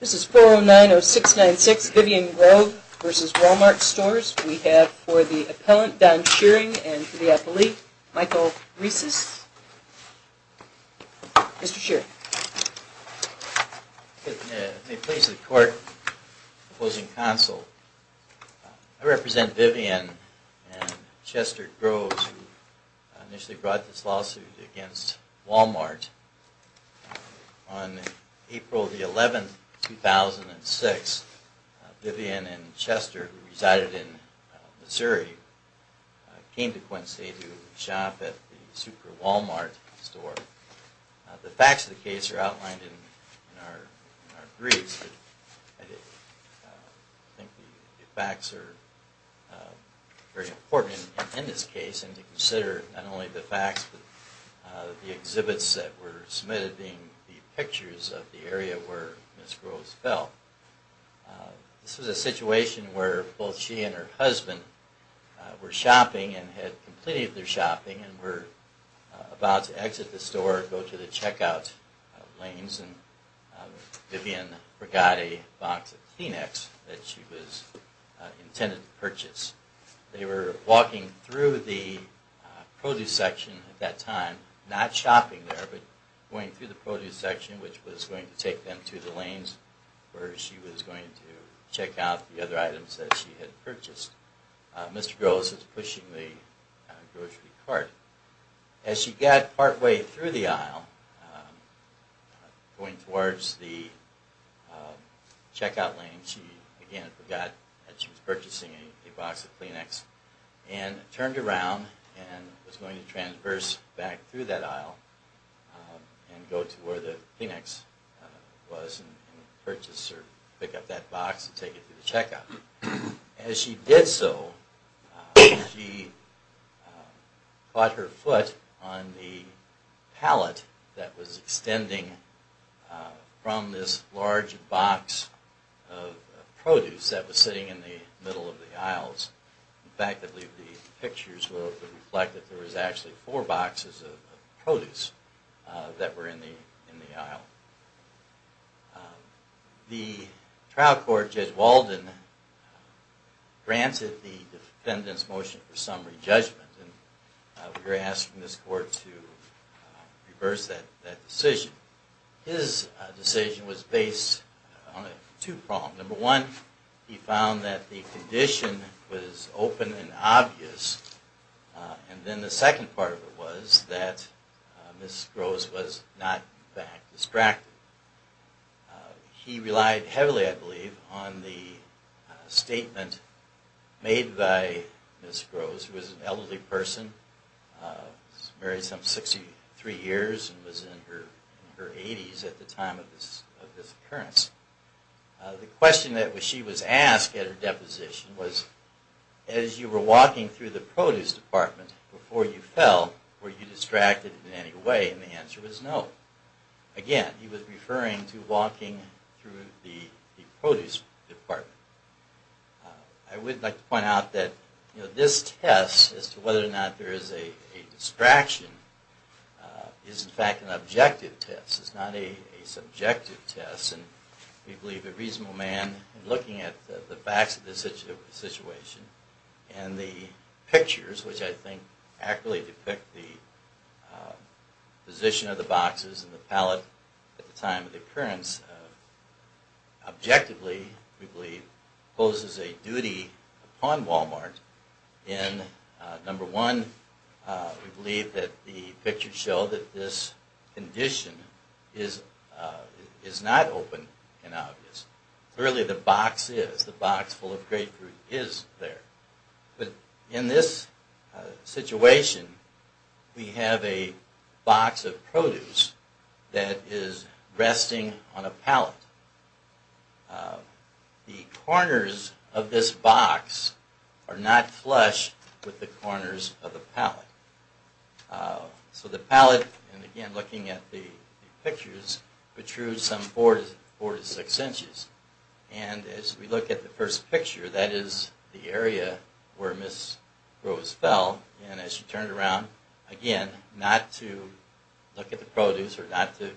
This is 4090696, Vivian Grove v. Wal-Mart Stores. We have for the appellant, Don Shearing, and for the appellee, Michael Rieses. Mr. Shearing. I represent Vivian and Chester Groves, who initially brought this lawsuit against Wal-Mart. On April 11, 2006, Vivian and Chester, who resided in Missouri, came to Quincy to shop at the Super Wal-Mart store. The facts of the case are outlined in our briefs, but I think the facts are very important in this case, and to consider not only the facts, but the exhibits that were submitted, being the pictures of the area where Ms. Groves fell. This was a situation where both she and her husband were shopping and had completed their shopping and were about to exit the store, go to the checkout lanes, and Vivian forgot a box of Kleenex that she was intended to purchase. They were walking through the produce section at that time, not shopping there, but going through the produce section, which was going to take them to the lanes where she was going to check out the other items that she had purchased. Mr. Groves was pushing the grocery cart. As she got partway through the aisle, going towards the checkout lane, she again forgot that she was purchasing a box of Kleenex and turned around and was going to transverse back through that aisle and go to where the Kleenex was and purchase or pick up that box and take it to the checkout. As she did so, she caught her foot on the pallet that was extending from this large box of produce that was sitting in the middle of the aisles. In fact, I believe the pictures reflect that there was actually four boxes of produce that were in the aisle. The trial court, Judge Walden, granted the defendant's motion for summary judgment. We were asked from this court to reverse that decision. His decision was based on two problems. Number one, he found that the condition was open and obvious. And then the second part of it was that Ms. Groves was not distracted. He relied heavily, I believe, on the statement made by Ms. Groves, who was an elderly person, married some 63 years and was in her 80s at the time of this occurrence. The question that she was asked at her deposition was, as you were walking through the produce department before you fell, were you distracted in any way? And the answer was no. Again, he was referring to walking through the produce department. I would like to point out that this test as to whether or not there is a distraction is, in fact, an objective test. It's not a subjective test. And we believe a reasonable man, looking at the facts of the situation and the pictures, which I think accurately depict the position of the boxes and the pallet at the time of the occurrence, objectively, we believe, poses a duty upon Walmart in, number one, we believe that the pictures show that this condition is not open and obvious. Clearly the box is. The box full of grapefruit is there. But in this situation, we have a box of produce that is resting on a pallet. The corners of this box are not flush with the corners of the pallet. So the pallet, and again looking at the pictures, protrudes some four to six inches. And as we look at the first picture, that is the area where Ms. Rose fell. And as she turned around, again, not to look at the produce or not to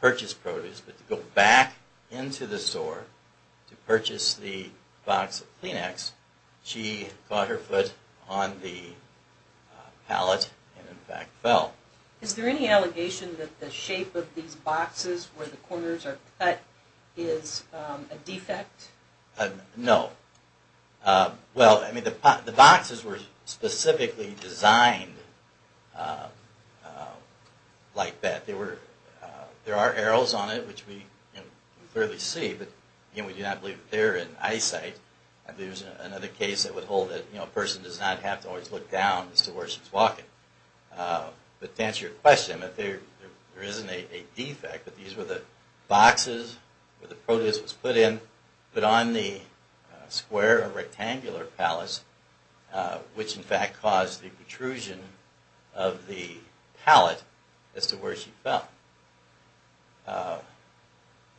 purchase produce, but to go back into the store to purchase the box of Kleenex, she caught her foot on the pallet and in fact fell. Is there any allegation that the shape of these boxes where the corners are cut is a defect? No. Well, I mean, the boxes were specifically designed like that. There were, there are arrows on it, which we clearly see, but again, we do not believe that they're in eyesight. There's another case that would hold that a person does not have to always look down as to where she's walking. But to answer your question, there isn't a defect, but these were the boxes where the produce was put in, put on the square or rectangular pallets, which in fact caused the protrusion of the pallet as to where she fell.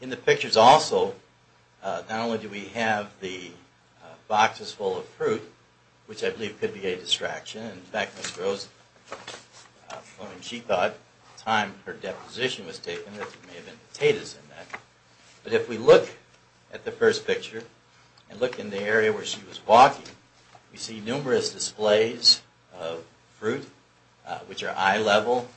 In the pictures also, not only do we have the boxes full of fruit, which I believe could be a distraction. In fact, Ms. Rose, when she thought the time her deposition was taken, there may have been potatoes in that. But if we look at the first picture and look in the area where she was walking, we see numerous displays of fruit, which are eye level,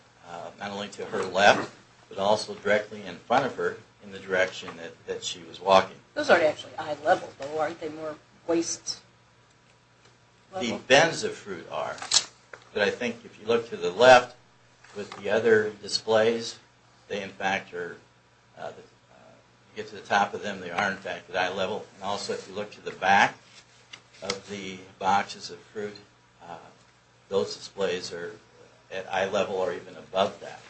not only to her left, but also directly in front of her in the direction that she was walking. Those aren't actually eye level, though, aren't they more waist level? I don't know what the bends of fruit are, but I think if you look to the left with the other displays, if you get to the top of them, they are in fact at eye level. Also, if you look to the back of the boxes of fruit, those displays are at eye level or even above that.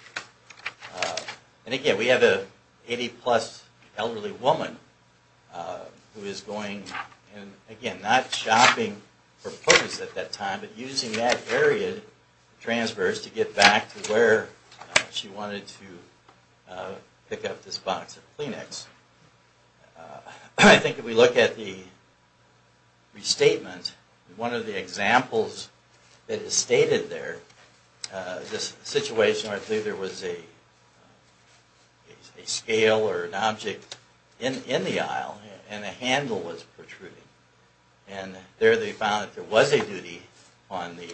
And again, we have an 80 plus elderly woman who is going, again, not shopping for produce at that time, but using that area, the transverse, to get back to where she wanted to pick up this box of Kleenex. I think if we look at the restatement, one of the examples that is stated there, this situation where there was a scale or an object in the aisle and a handle was protruding. And there they found that there was a duty on the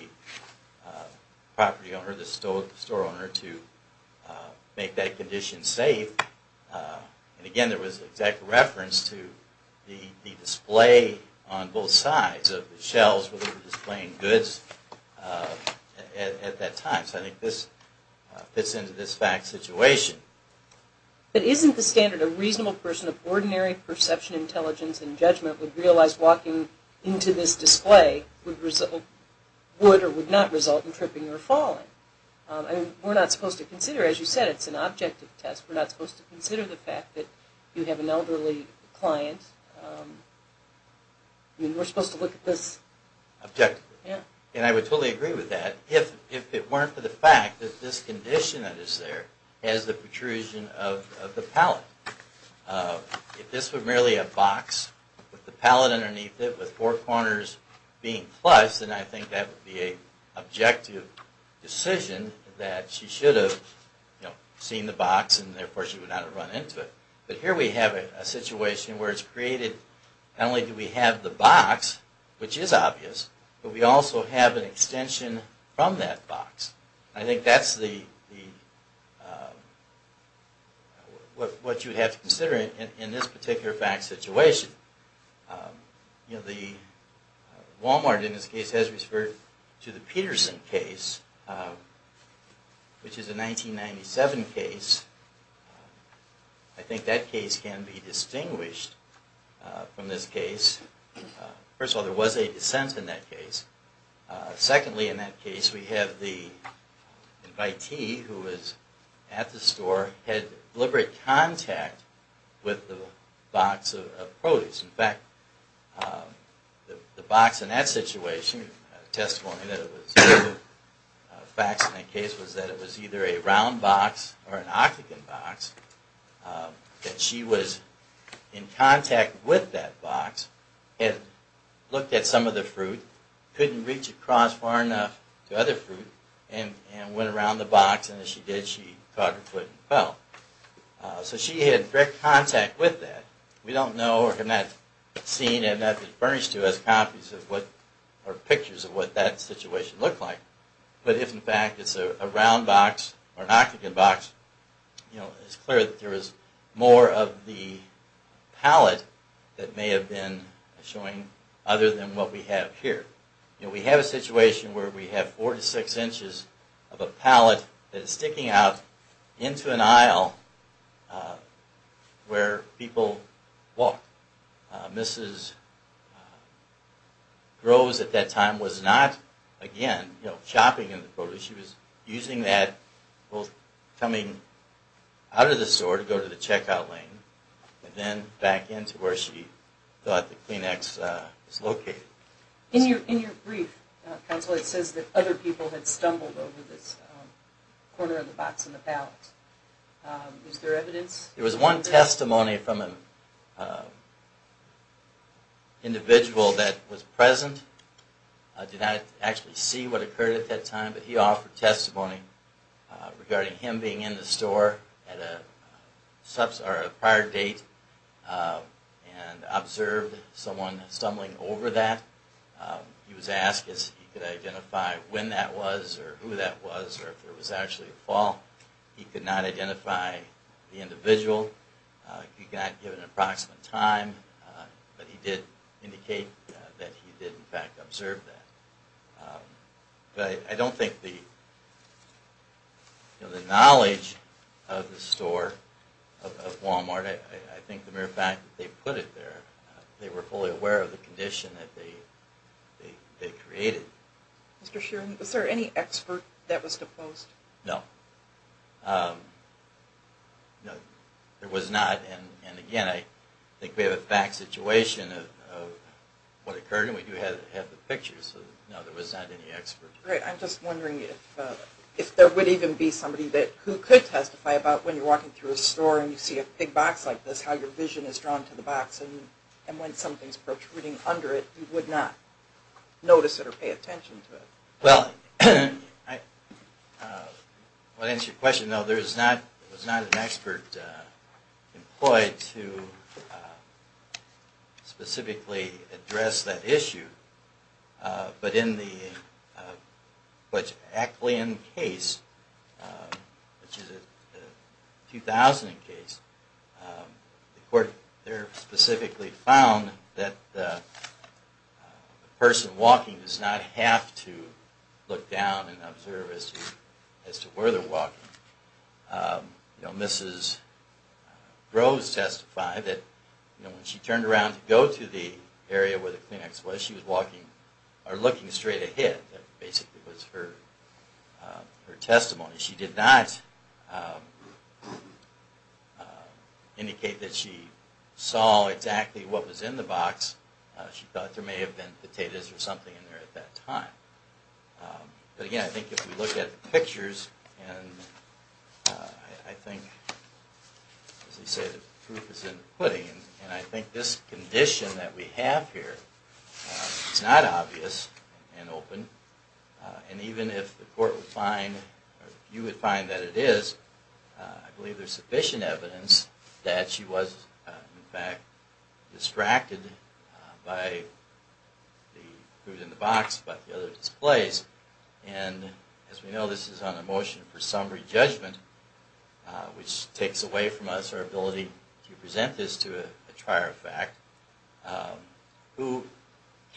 property owner, the store owner, to make that condition safe. And again, there was an exact reference to the display on both sides of the shelves where they were displaying goods at that time. So I think this fits into this fact situation. But isn't the standard a reasonable person of ordinary perception, intelligence, and judgment would realize walking into this display would or would not result in tripping or falling? I mean, we're not supposed to consider, as you said, it's an objective test. We're not supposed to consider the fact that you have an elderly client. I mean, we're supposed to look at this objectively. And I would totally agree with that if it weren't for the fact that this condition that is there has the protrusion of the pallet. If this were merely a box with the pallet underneath it with four corners being flushed, then I think that would be an objective decision that she should have seen the box and therefore she would not have run into it. But here we have a situation where it's created, not only do we have the box, which is obvious, but we also have an extension from that box. I think that's what you have to consider in this particular fact situation. The Wal-Mart in this case has referred to the Peterson case, which is a 1997 case. I think that case can be distinguished from this case. First of all, there was a dissent in that case. Secondly, in that case, we have the invitee who was at the store, had deliberate contact with the box of produce. In fact, the box in that situation, a testimony that it was facts in that case, was that it was either a round box or an octagon box, that she was in contact with that box, had looked at some of the fruit, couldn't reach across far enough to other fruit, and went around the box, and as she did, she caught her foot and fell. So she had direct contact with that. We don't know, or have not seen, and have not been furnished to us copies or pictures of what that situation looked like. But if, in fact, it's a round box or an octagon box, it's clear that there is more of the palate that may have been showing other than what we have here. We have a situation where we have four to six inches of a palate that is sticking out into an aisle where people walk. Mrs. Groves at that time was not, again, shopping in the produce. She was using that, coming out of the store to go to the checkout lane, and then back into where she thought the Kleenex was located. In your brief, Counsel, it says that other people had stumbled over this corner of the box and the palate. Is there evidence? There was one testimony from an individual that was present. I did not actually see what occurred at that time, but he offered testimony regarding him being in the store at a prior date, and observed someone stumbling over that. He was asked if he could identify when that was, or who that was, or if it was actually the fall. He could not identify the individual. He got given an approximate time, but he did indicate that he did, in fact, observe that. But I don't think the knowledge of the store, of Walmart, I think the mere fact that they put it there, they were fully aware of the condition that they created. Mr. Sheeran, was there any expert that was deposed? No. There was not. And again, I think we have a fact situation of what occurred, and we do have the pictures. No, there was not any expert. Great. I'm just wondering if there would even be somebody who could testify about when you're walking through a store and you see a big box like this, how your vision is drawn to the box, and when something's protruding under it, you would not notice it or pay attention to it. Well, to answer your question, no, there was not an expert employed to specifically address that issue. But in the Aclean case, which is a 2000 case, the court there specifically found that the person walking does not have to look down and observe as to where they're walking. Mrs. Groves testified that when she turned around to go to the area where the Kleenex was, she was looking straight ahead. That basically was her testimony. She did not indicate that she saw exactly what was in the box. She thought there may have been potatoes or something in there at that time. But again, I think if we look at the pictures, and I think, as they say, the proof is in the pudding, and I think this condition that we have here is not obvious and open. And even if the court would find, or if you would find that it is, I believe there's sufficient evidence that she was, in fact, distracted by the food in the box, by the other displays. And as we know, this is on a motion for summary judgment, which takes away from us our ability to present this to a trier of fact, who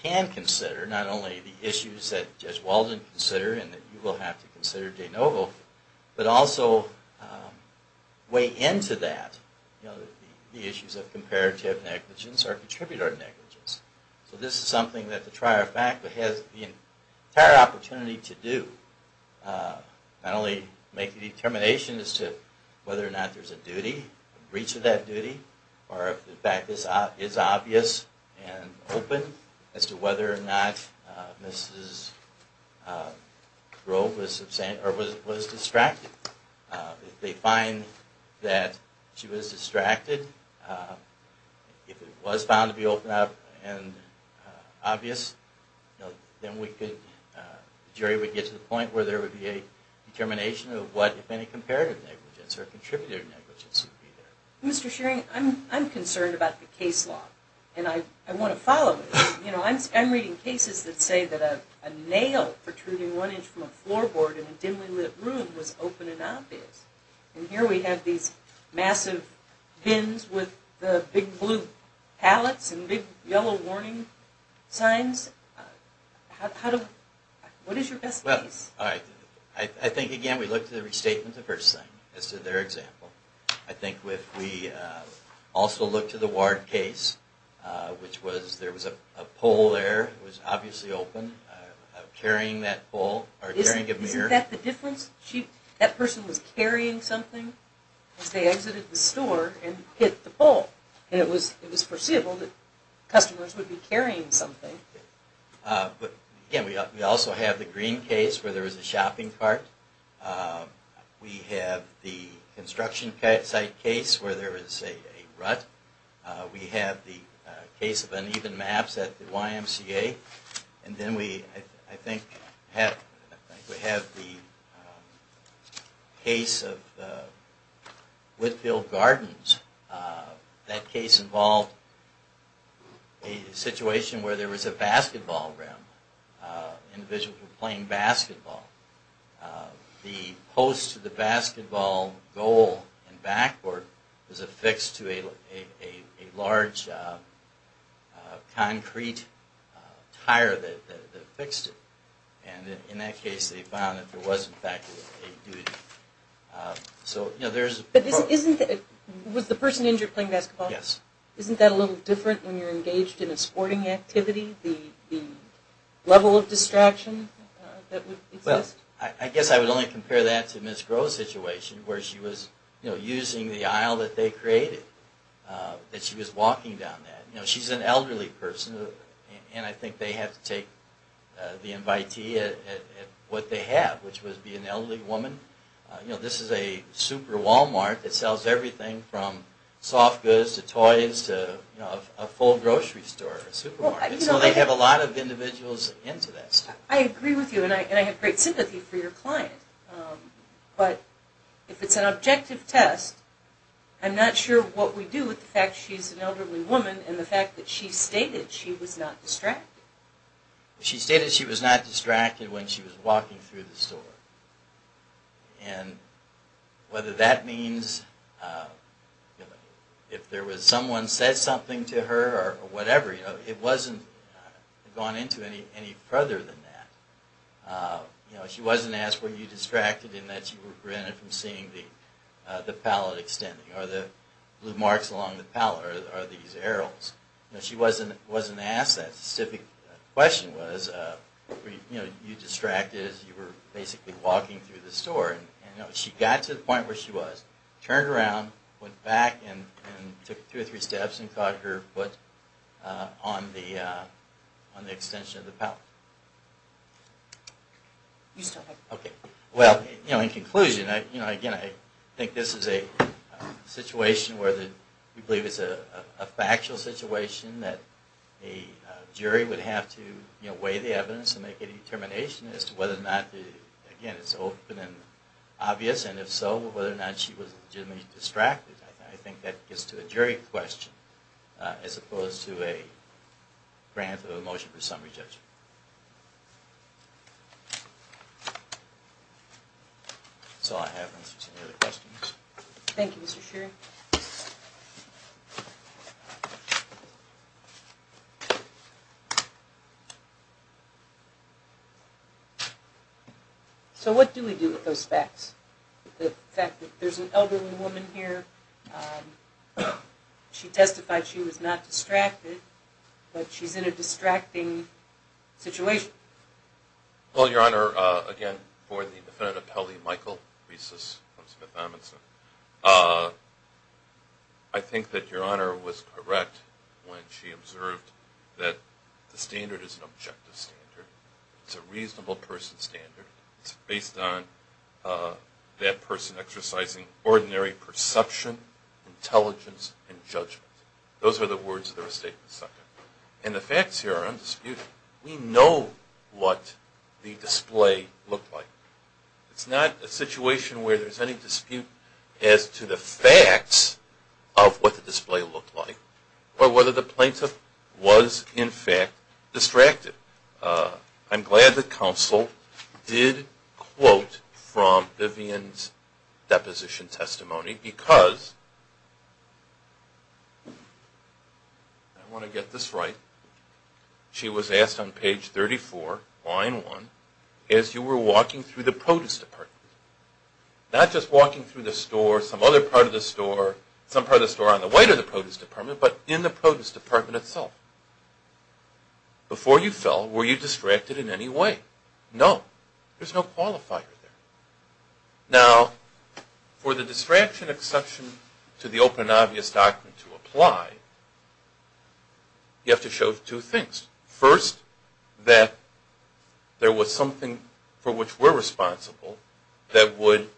can consider not only the issues that you have, but also the other issues that you have. Issues that Judge Walden considered and that you will have to consider, J. Novo, but also weigh into that the issues of comparative negligence or contributor negligence. So this is something that the trier of fact has the entire opportunity to do. The jury would be able to not only make a determination as to whether or not there's a duty, a breach of that duty, or if the fact is obvious and open as to whether or not Mrs. Grove was distracted. If they find that she was distracted, if it was found to be open and obvious, then we could – the jury would get to the point where there would be able to determine whether or not she was distracted. And that would be a determination of what, if any, comparative negligence or contributor negligence would be there. Mr. Shearing, I'm concerned about the case law, and I want to follow it. I'm reading cases that say that a nail protruding one inch from a floorboard in a dimly lit room was open and obvious. And here we have these massive bins with the big blue pallets and big yellow warning signs. What is your best guess? Well, all right. I think, again, we look to the restatement of the first thing as to their example. I think if we also look to the Ward case, which was there was a pole there. It was obviously open. Carrying that pole – or carrying a mirror. Isn't that the difference? That person was carrying something as they exited the store and hit the pole. And it was perceivable that customers would be carrying something. But, again, we also have the green case where there was a shopping cart. We have the construction site case where there was a rut. We have the case of uneven maps at the YMCA. And then we, I think, have the case of the Whitfield Gardens. That case involved a situation where there was a basketball rim. Individuals were playing basketball. The post to the basketball goal and backboard was affixed to a large concrete tire that affixed it. And in that case they found that there was, in fact, a duty. But isn't – was the person injured playing basketball? Yes. Isn't that a little different when you're engaged in a sporting activity? The level of distraction that would exist? I guess I would only compare that to Ms. Groh's situation where she was, you know, using the aisle that they created, that she was walking down that. You know, she's an elderly person and I think they have to take the invitee at what they have, which would be an elderly woman. You know, this is a super Walmart that sells everything from soft goods to toys to, you know, a full grocery store, a supermarket. So they have a lot of individuals into that. I agree with you and I have great sympathy for your client. But if it's an objective test, I'm not sure what we do with the fact she's an elderly woman and the fact that she stated she was not distracted. She stated she was not distracted when she was walking through the store. And whether that means if there was someone said something to her or whatever, you know, it wasn't gone into any further than that. You know, she wasn't asked were you distracted in that you were prevented from seeing the pallet extending or the blue marks along the pallet or these arrows. You know, she wasn't asked that specific question was, you know, you distracted as you were basically walking through the store. And, you know, she got to the point where she was, turned around, went back and took two or three steps and caught her foot on the extension of the pallet. Okay. Well, you know, in conclusion, you know, again, I think this is a situation where we believe it's a factual situation that a jury would have to weigh the evidence and make a determination as to whether or not, again, it's open and obvious, and if so, whether or not she was legitimately distracted. I think that gets to a jury question as opposed to a grant of a motion for summary judgment. That's all I have. Any other questions? Thank you, Mr. Shearing. So what do we do with those facts? The fact that there's an elderly woman here, she testified she was not distracted, but she's in a distracting situation. Well, Your Honor, again, for the Defendant Appellee Michael Reeses from Smith-Edmondson, I think that Your Honor was correct when she observed that the standard is an objective standard. It's a reasonable person standard. It's based on that person exercising ordinary perception, intelligence, and judgment. Those are the words of the restatement section. And the facts here are undisputed. We know what the display looked like. It's not a situation where there's any dispute as to the facts of what the display looked like or whether the plaintiff was, in fact, distracted. I'm glad that counsel did quote from Vivian's deposition testimony because I want to get this right. She was asked on page 34, line 1, as you were walking through the produce department. Not just walking through the store, some other part of the store, some part of the store on the way to the produce department, but in the produce department itself. Before you fell, were you distracted in any way? No. There's no qualifier there. Now, for the distraction exception to the open and obvious doctrine to apply, you have to show two things. First, that there was something for which we're responsible that would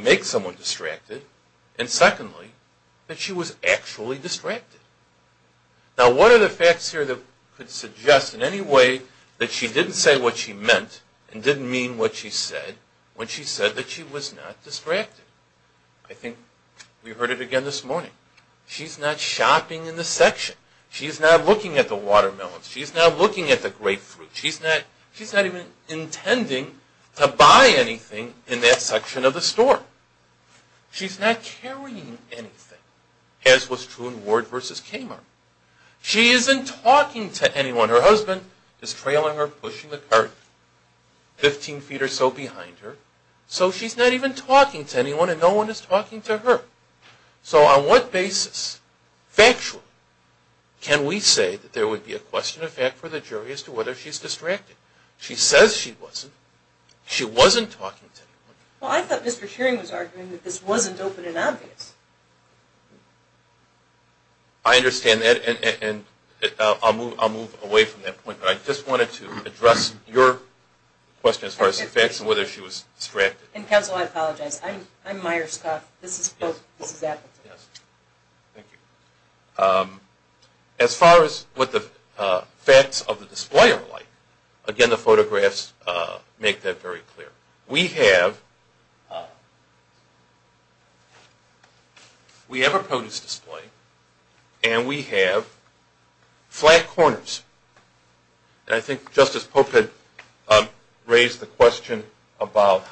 make someone distracted. And secondly, that she was actually distracted. Now, what are the facts here that could suggest in any way that she didn't say what she meant and didn't mean what she said when she said that she was not distracted? I think we heard it again this morning. She's not shopping in the section. She's not looking at the watermelons. She's not looking at the grapefruit. She's not even intending to buy anything in that section of the store. She's not carrying anything, as was true in Ward v. Kamar. She isn't talking to anyone. Her husband is trailing her, pushing the cart 15 feet or so behind her. So she's not even talking to anyone and no one is talking to her. So on what basis, factually, can we say that there would be a question of fact for the jury as to whether she's distracted? She says she wasn't. She wasn't talking to anyone. Well, I thought Mr. Shearing was arguing that this wasn't open and obvious. I understand that, and I'll move away from that point. But I just wanted to address your question as far as the facts and whether she was distracted. Counsel, I apologize. I'm Meier-Scoff. This is Appleton. Thank you. As far as what the facts of the display are like, again, the photographs make that very clear. We have a produce display and we have flat corners. And I think Justice Pope had raised the question about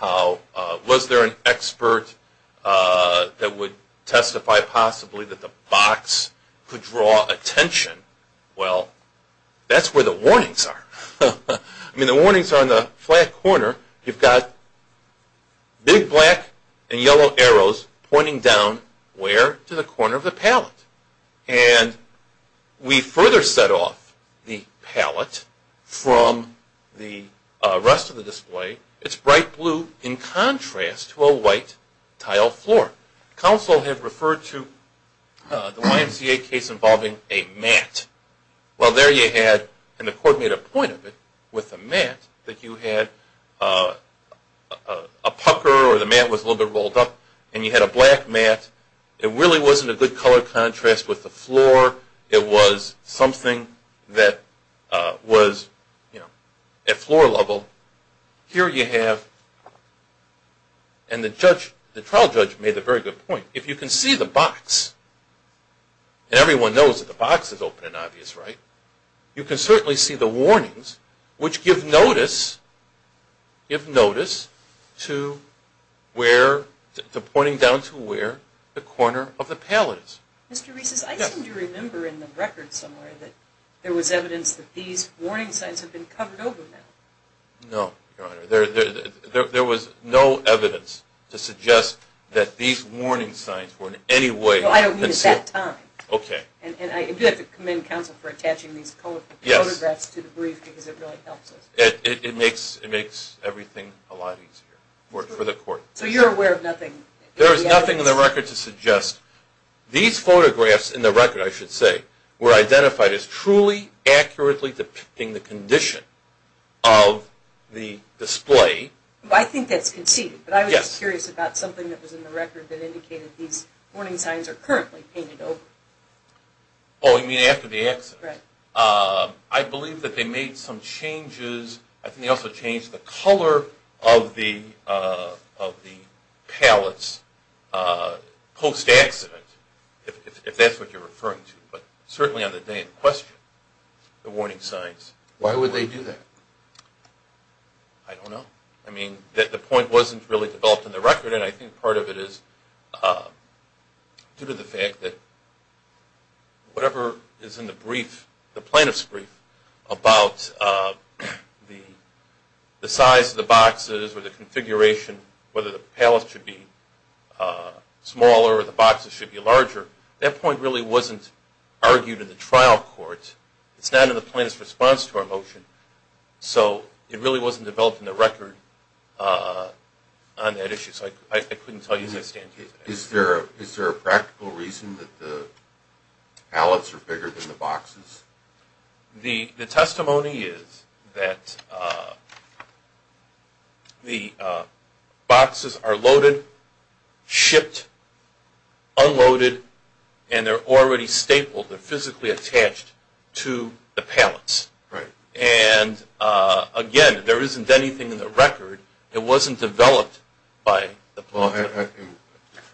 was there an expert that would testify possibly that the box could draw attention. Well, that's where the warnings are. I mean, the warnings are on the flat corner. You've got big black and yellow arrows pointing down where? To the corner of the palette. And we further set off the palette from the rest of the display. It's bright blue in contrast to a white tile floor. Counsel had referred to the YMCA case involving a mat. Well, there you had, and the court made a point of it, with the mat, that you had a pucker or the mat was a little bit rolled up, and you had a black mat. It really wasn't a good color contrast with the floor. It was something that was, you know, at floor level. Here you have, and the trial judge made a very good point. If you can see the box, and everyone knows that the box is open and obvious, right? You can certainly see the warnings, which give notice to pointing down to where the corner of the palette is. Mr. Reeses, I seem to remember in the record somewhere that there was evidence that these warning signs had been covered over. No, Your Honor. There was no evidence to suggest that these warning signs were in any way concealed. I don't mean at that time. Okay. And I do have to commend counsel for attaching these photographs to the brief because it really helps us. It makes everything a lot easier for the court. So you're aware of nothing? There is nothing in the record to suggest. These photographs in the record, I should say, were identified as truly accurately depicting the condition of the display. I think that's conceded. But I was just curious about something that was in the record that indicated these warning signs are currently painted over. Oh, you mean after the accident? Right. I believe that they made some changes. I think they also changed the color of the palettes post-accident, if that's what you're referring to. But certainly on the day in question, the warning signs. Why would they do that? I don't know. I mean, the point wasn't really developed in the record, and I think part of it is due to the fact that whatever is in the brief, the plaintiff's brief, about the size of the boxes or the configuration, whether the palette should be smaller or the boxes should be larger, that point really wasn't argued in the trial court. It's not in the plaintiff's response to our motion. So it really wasn't developed in the record on that issue. So I couldn't tell you the extent to that. Is there a practical reason that the palettes are bigger than the boxes? The testimony is that the boxes are loaded, shipped, unloaded, and they're already stapled. They're physically attached to the palettes. Right. And, again, there isn't anything in the record. It wasn't developed by the plaintiff.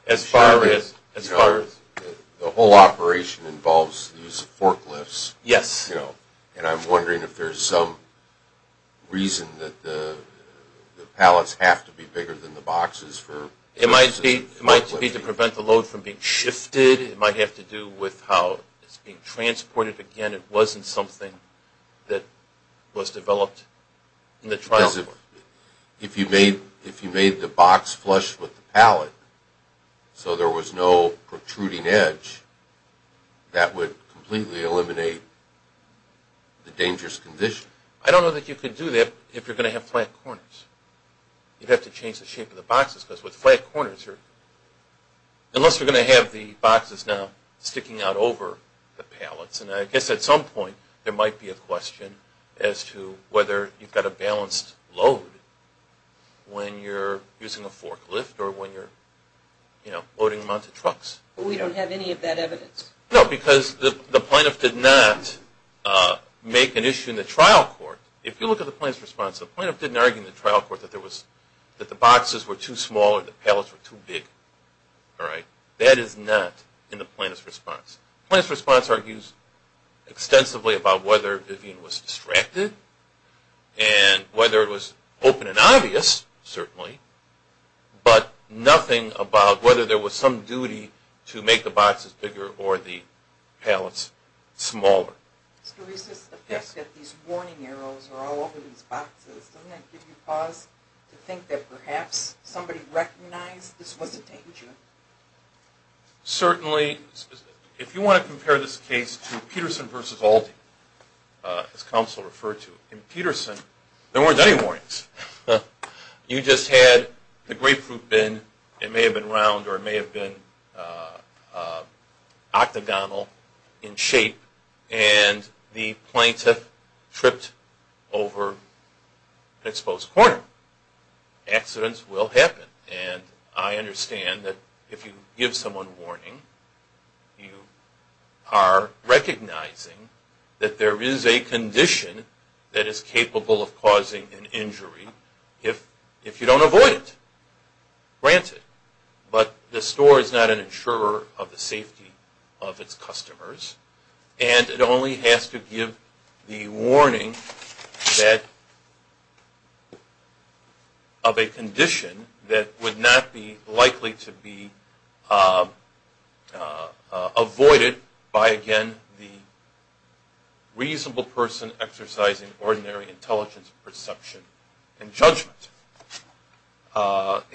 As far as the whole operation involves the use of forklifts. Yes. And I'm wondering if there's some reason that the palettes have to be bigger than the boxes. It might be to prevent the load from being shifted. It might have to do with how it's being transported. But, again, it wasn't something that was developed in the trial court. Because if you made the box flush with the palette so there was no protruding edge, that would completely eliminate the dangerous condition. I don't know that you could do that if you're going to have flat corners. You'd have to change the shape of the boxes because with flat corners, unless you're going to have the boxes now sticking out over the palettes. And I guess at some point there might be a question as to whether you've got a balanced load when you're using a forklift or when you're loading them onto trucks. We don't have any of that evidence. No, because the plaintiff did not make an issue in the trial court. If you look at the plaintiff's response, the plaintiff didn't argue in the trial court that the boxes were too small or the palettes were too big. That is not in the plaintiff's response. The plaintiff's response argues extensively about whether Vivian was distracted and whether it was open and obvious, certainly, but nothing about whether there was some duty to make the boxes bigger or the palettes smaller. Mr. Reses, the fact that these warning arrows are all over these boxes, doesn't that give you pause to think that perhaps somebody recognized this was a danger? Certainly. If you want to compare this case to Peterson v. Aldi, as counsel referred to, in Peterson there weren't any warnings. You just had the grapefruit bin. It may have been round or it may have been octagonal in shape and the plaintiff tripped over an exposed corner. Accidents will happen, and I understand that if you give someone warning, you are recognizing that there is a condition that is capable of causing an injury if you don't avoid it. Granted, but the store is not an insurer of the safety of its customers and it only has to give the warning of a condition that would not be likely to be avoided by, again, the reasonable person exercising ordinary intelligence, perception, and judgment.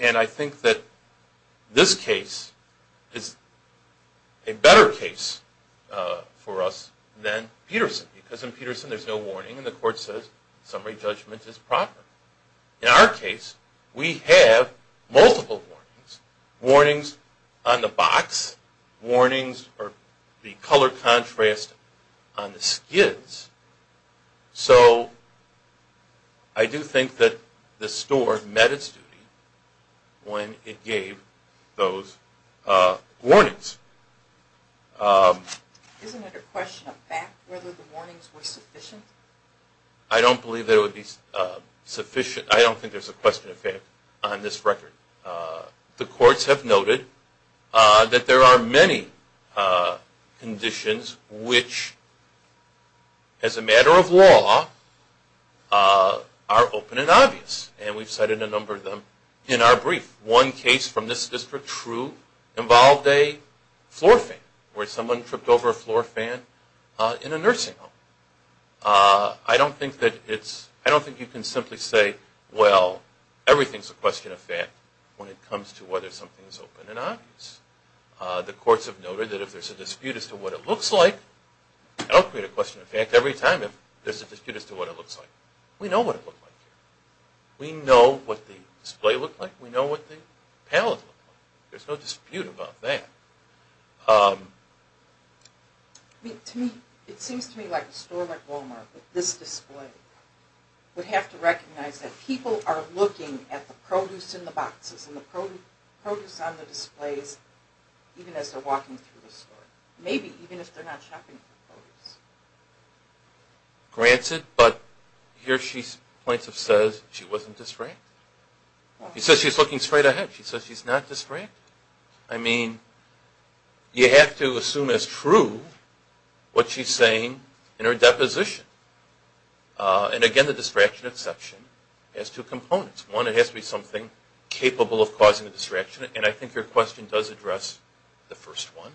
And I think that this case is a better case for us than Peterson, because in Peterson there's no warning and the court says summary judgment is proper. In our case, we have multiple warnings. Warnings on the box, warnings or the color contrast on the skids. So I do think that the store met its duty when it gave those warnings. Isn't it a question of fact whether the warnings were sufficient? I don't believe there would be sufficient. I don't think there's a question of fact on this record. The courts have noted that there are many conditions which, as a matter of law, are open and obvious. And we've cited a number of them in our brief. One case from this district, True, involved a floor fan where someone tripped over a floor fan in a nursing home. I don't think you can simply say, well, everything's a question of fact when it comes to whether something's open and obvious. The courts have noted that if there's a dispute as to what it looks like, I don't create a question of fact every time if there's a dispute as to what it looks like. We know what it looked like here. We know what the display looked like. We know what the pallet looked like. There's no dispute about that. It seems to me like a store like Walmart with this display would have to recognize that people are looking at the produce in the boxes and the produce on the displays even as they're walking through the store, maybe even if they're not shopping for produce. Granted, but here she points and says she wasn't distracted. She says she's looking straight ahead. She says she's not distracted. I mean, you have to assume as true what she's saying in her deposition. And again, the distraction exception has two components. One, it has to be something capable of causing a distraction, and I think your question does address the first one.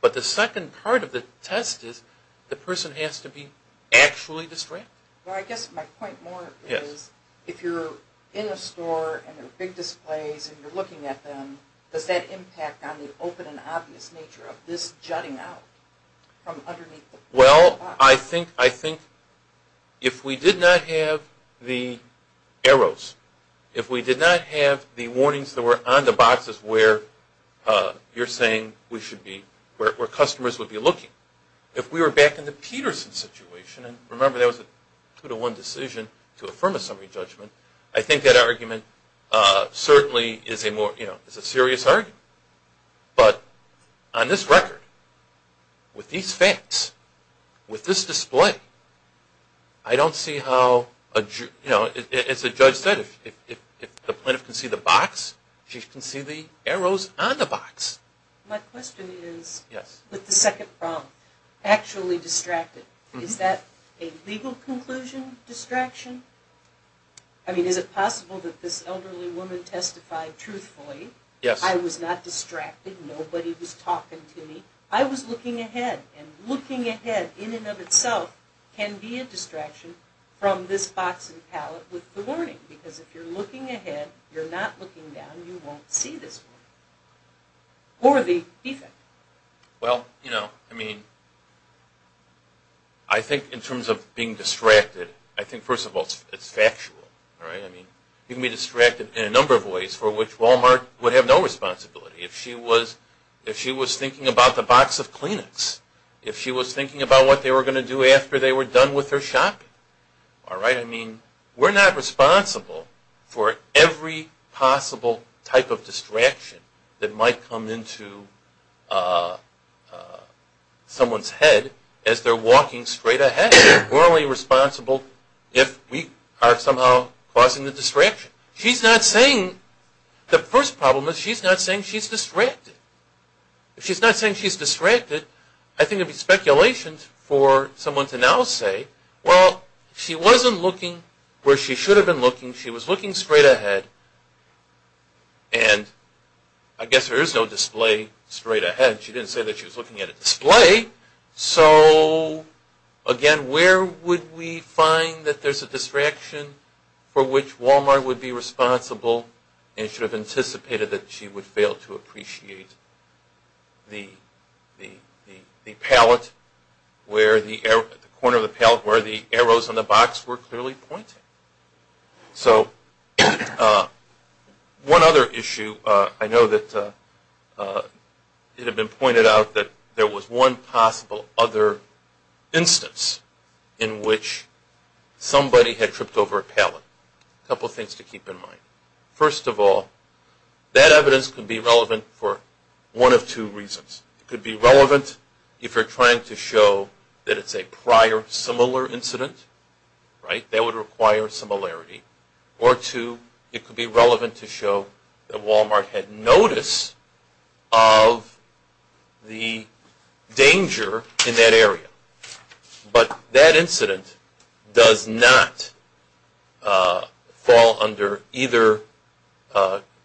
But the second part of the test is the person has to be actually distracted. Well, I guess my point more is if you're in a store and there are big displays and you're looking at them, does that impact on the open and obvious nature of this jutting out from underneath the box? Well, I think if we did not have the arrows, if we did not have the warnings that were on the boxes where you're saying we should be, where customers would be looking, if we were back in the Peterson situation, and remember that was a two-to-one decision to affirm a summary judgment, I think that argument certainly is a serious argument. But on this record, with these facts, with this display, I don't see how, as the judge said, if the plaintiff can see the box, she can see the arrows on the box. My question is, with the second problem, actually distracted, is that a legal conclusion distraction? I mean, is it possible that this elderly woman testified truthfully, I was not distracted, nobody was talking to me, I was looking ahead, and looking ahead in and of itself can be a distraction from this box and pallet with the warning, because if you're looking ahead, you're not looking down, you won't see this warning. Or the defect. Well, you know, I mean, I think in terms of being distracted, I think, first of all, it's factual. You can be distracted in a number of ways for which Walmart would have no responsibility. If she was thinking about the box of Kleenex, if she was thinking about what they were going to do after they were done with her shopping, all right, I mean, we're not responsible for every possible type of distraction that might come into someone's head as they're walking straight ahead. We're only responsible if we are somehow causing the distraction. She's not saying, the first problem is she's not saying she's distracted. If she's not saying she's distracted, I think it would be speculation for someone to now say, well, she wasn't looking where she should have been looking. She was looking straight ahead, and I guess there is no display straight ahead. She didn't say that she was looking at a display. So, again, where would we find that there's a distraction for which Walmart would be responsible and should have anticipated that she would fail to appreciate the pallet, the corner of the pallet where the arrows on the box were clearly pointing? So one other issue, I know that it had been pointed out that there was one possible other instance in which somebody had tripped over a pallet. A couple of things to keep in mind. First of all, that evidence could be relevant for one of two reasons. It could be relevant if you're trying to show that it's a prior similar incident. That would require similarity. Or two, it could be relevant to show that Walmart had notice of the danger in that area. But that incident does not fall under either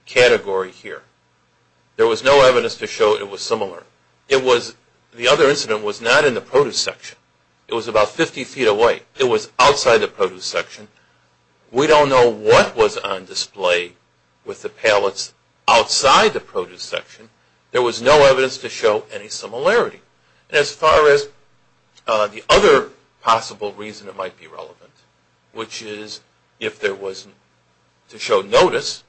category here. There was no evidence to show it was similar. The other incident was not in the produce section. It was about 50 feet away. It was outside the produce section. We don't know what was on display with the pallets outside the produce section. There was no evidence to show any similarity. As far as the other possible reason it might be relevant, which is if there was to show notice,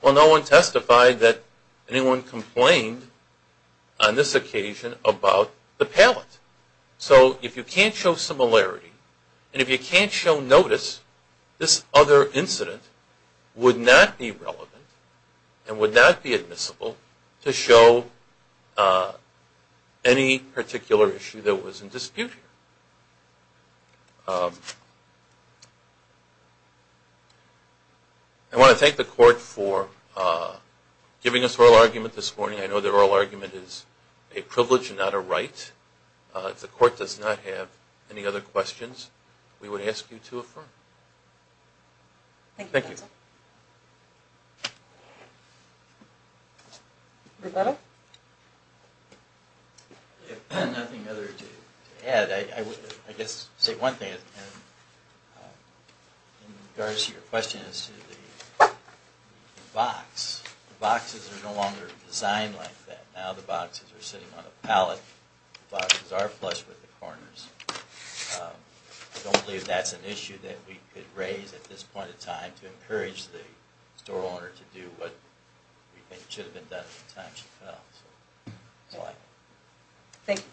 well, no one testified that anyone complained on this occasion about the pallet. So if you can't show similarity, and if you can't show notice, this other incident would not be relevant and would not be admissible to show any particular issue that was in dispute here. I want to thank the Court for giving us oral argument this morning. I know the oral argument is a privilege and not a right. If the Court does not have any other questions, we would ask you to affirm. Thank you. Any other questions? Roberto? If nothing other to add, I guess I'll say one thing. In regards to your question as to the box, the boxes are no longer designed like that. Now the boxes are sitting on a pallet. The boxes are flush with the corners. I don't believe that's an issue that we could raise at this point in time to encourage the store owner to do what we think should have been done at the time she fell. That's all I have.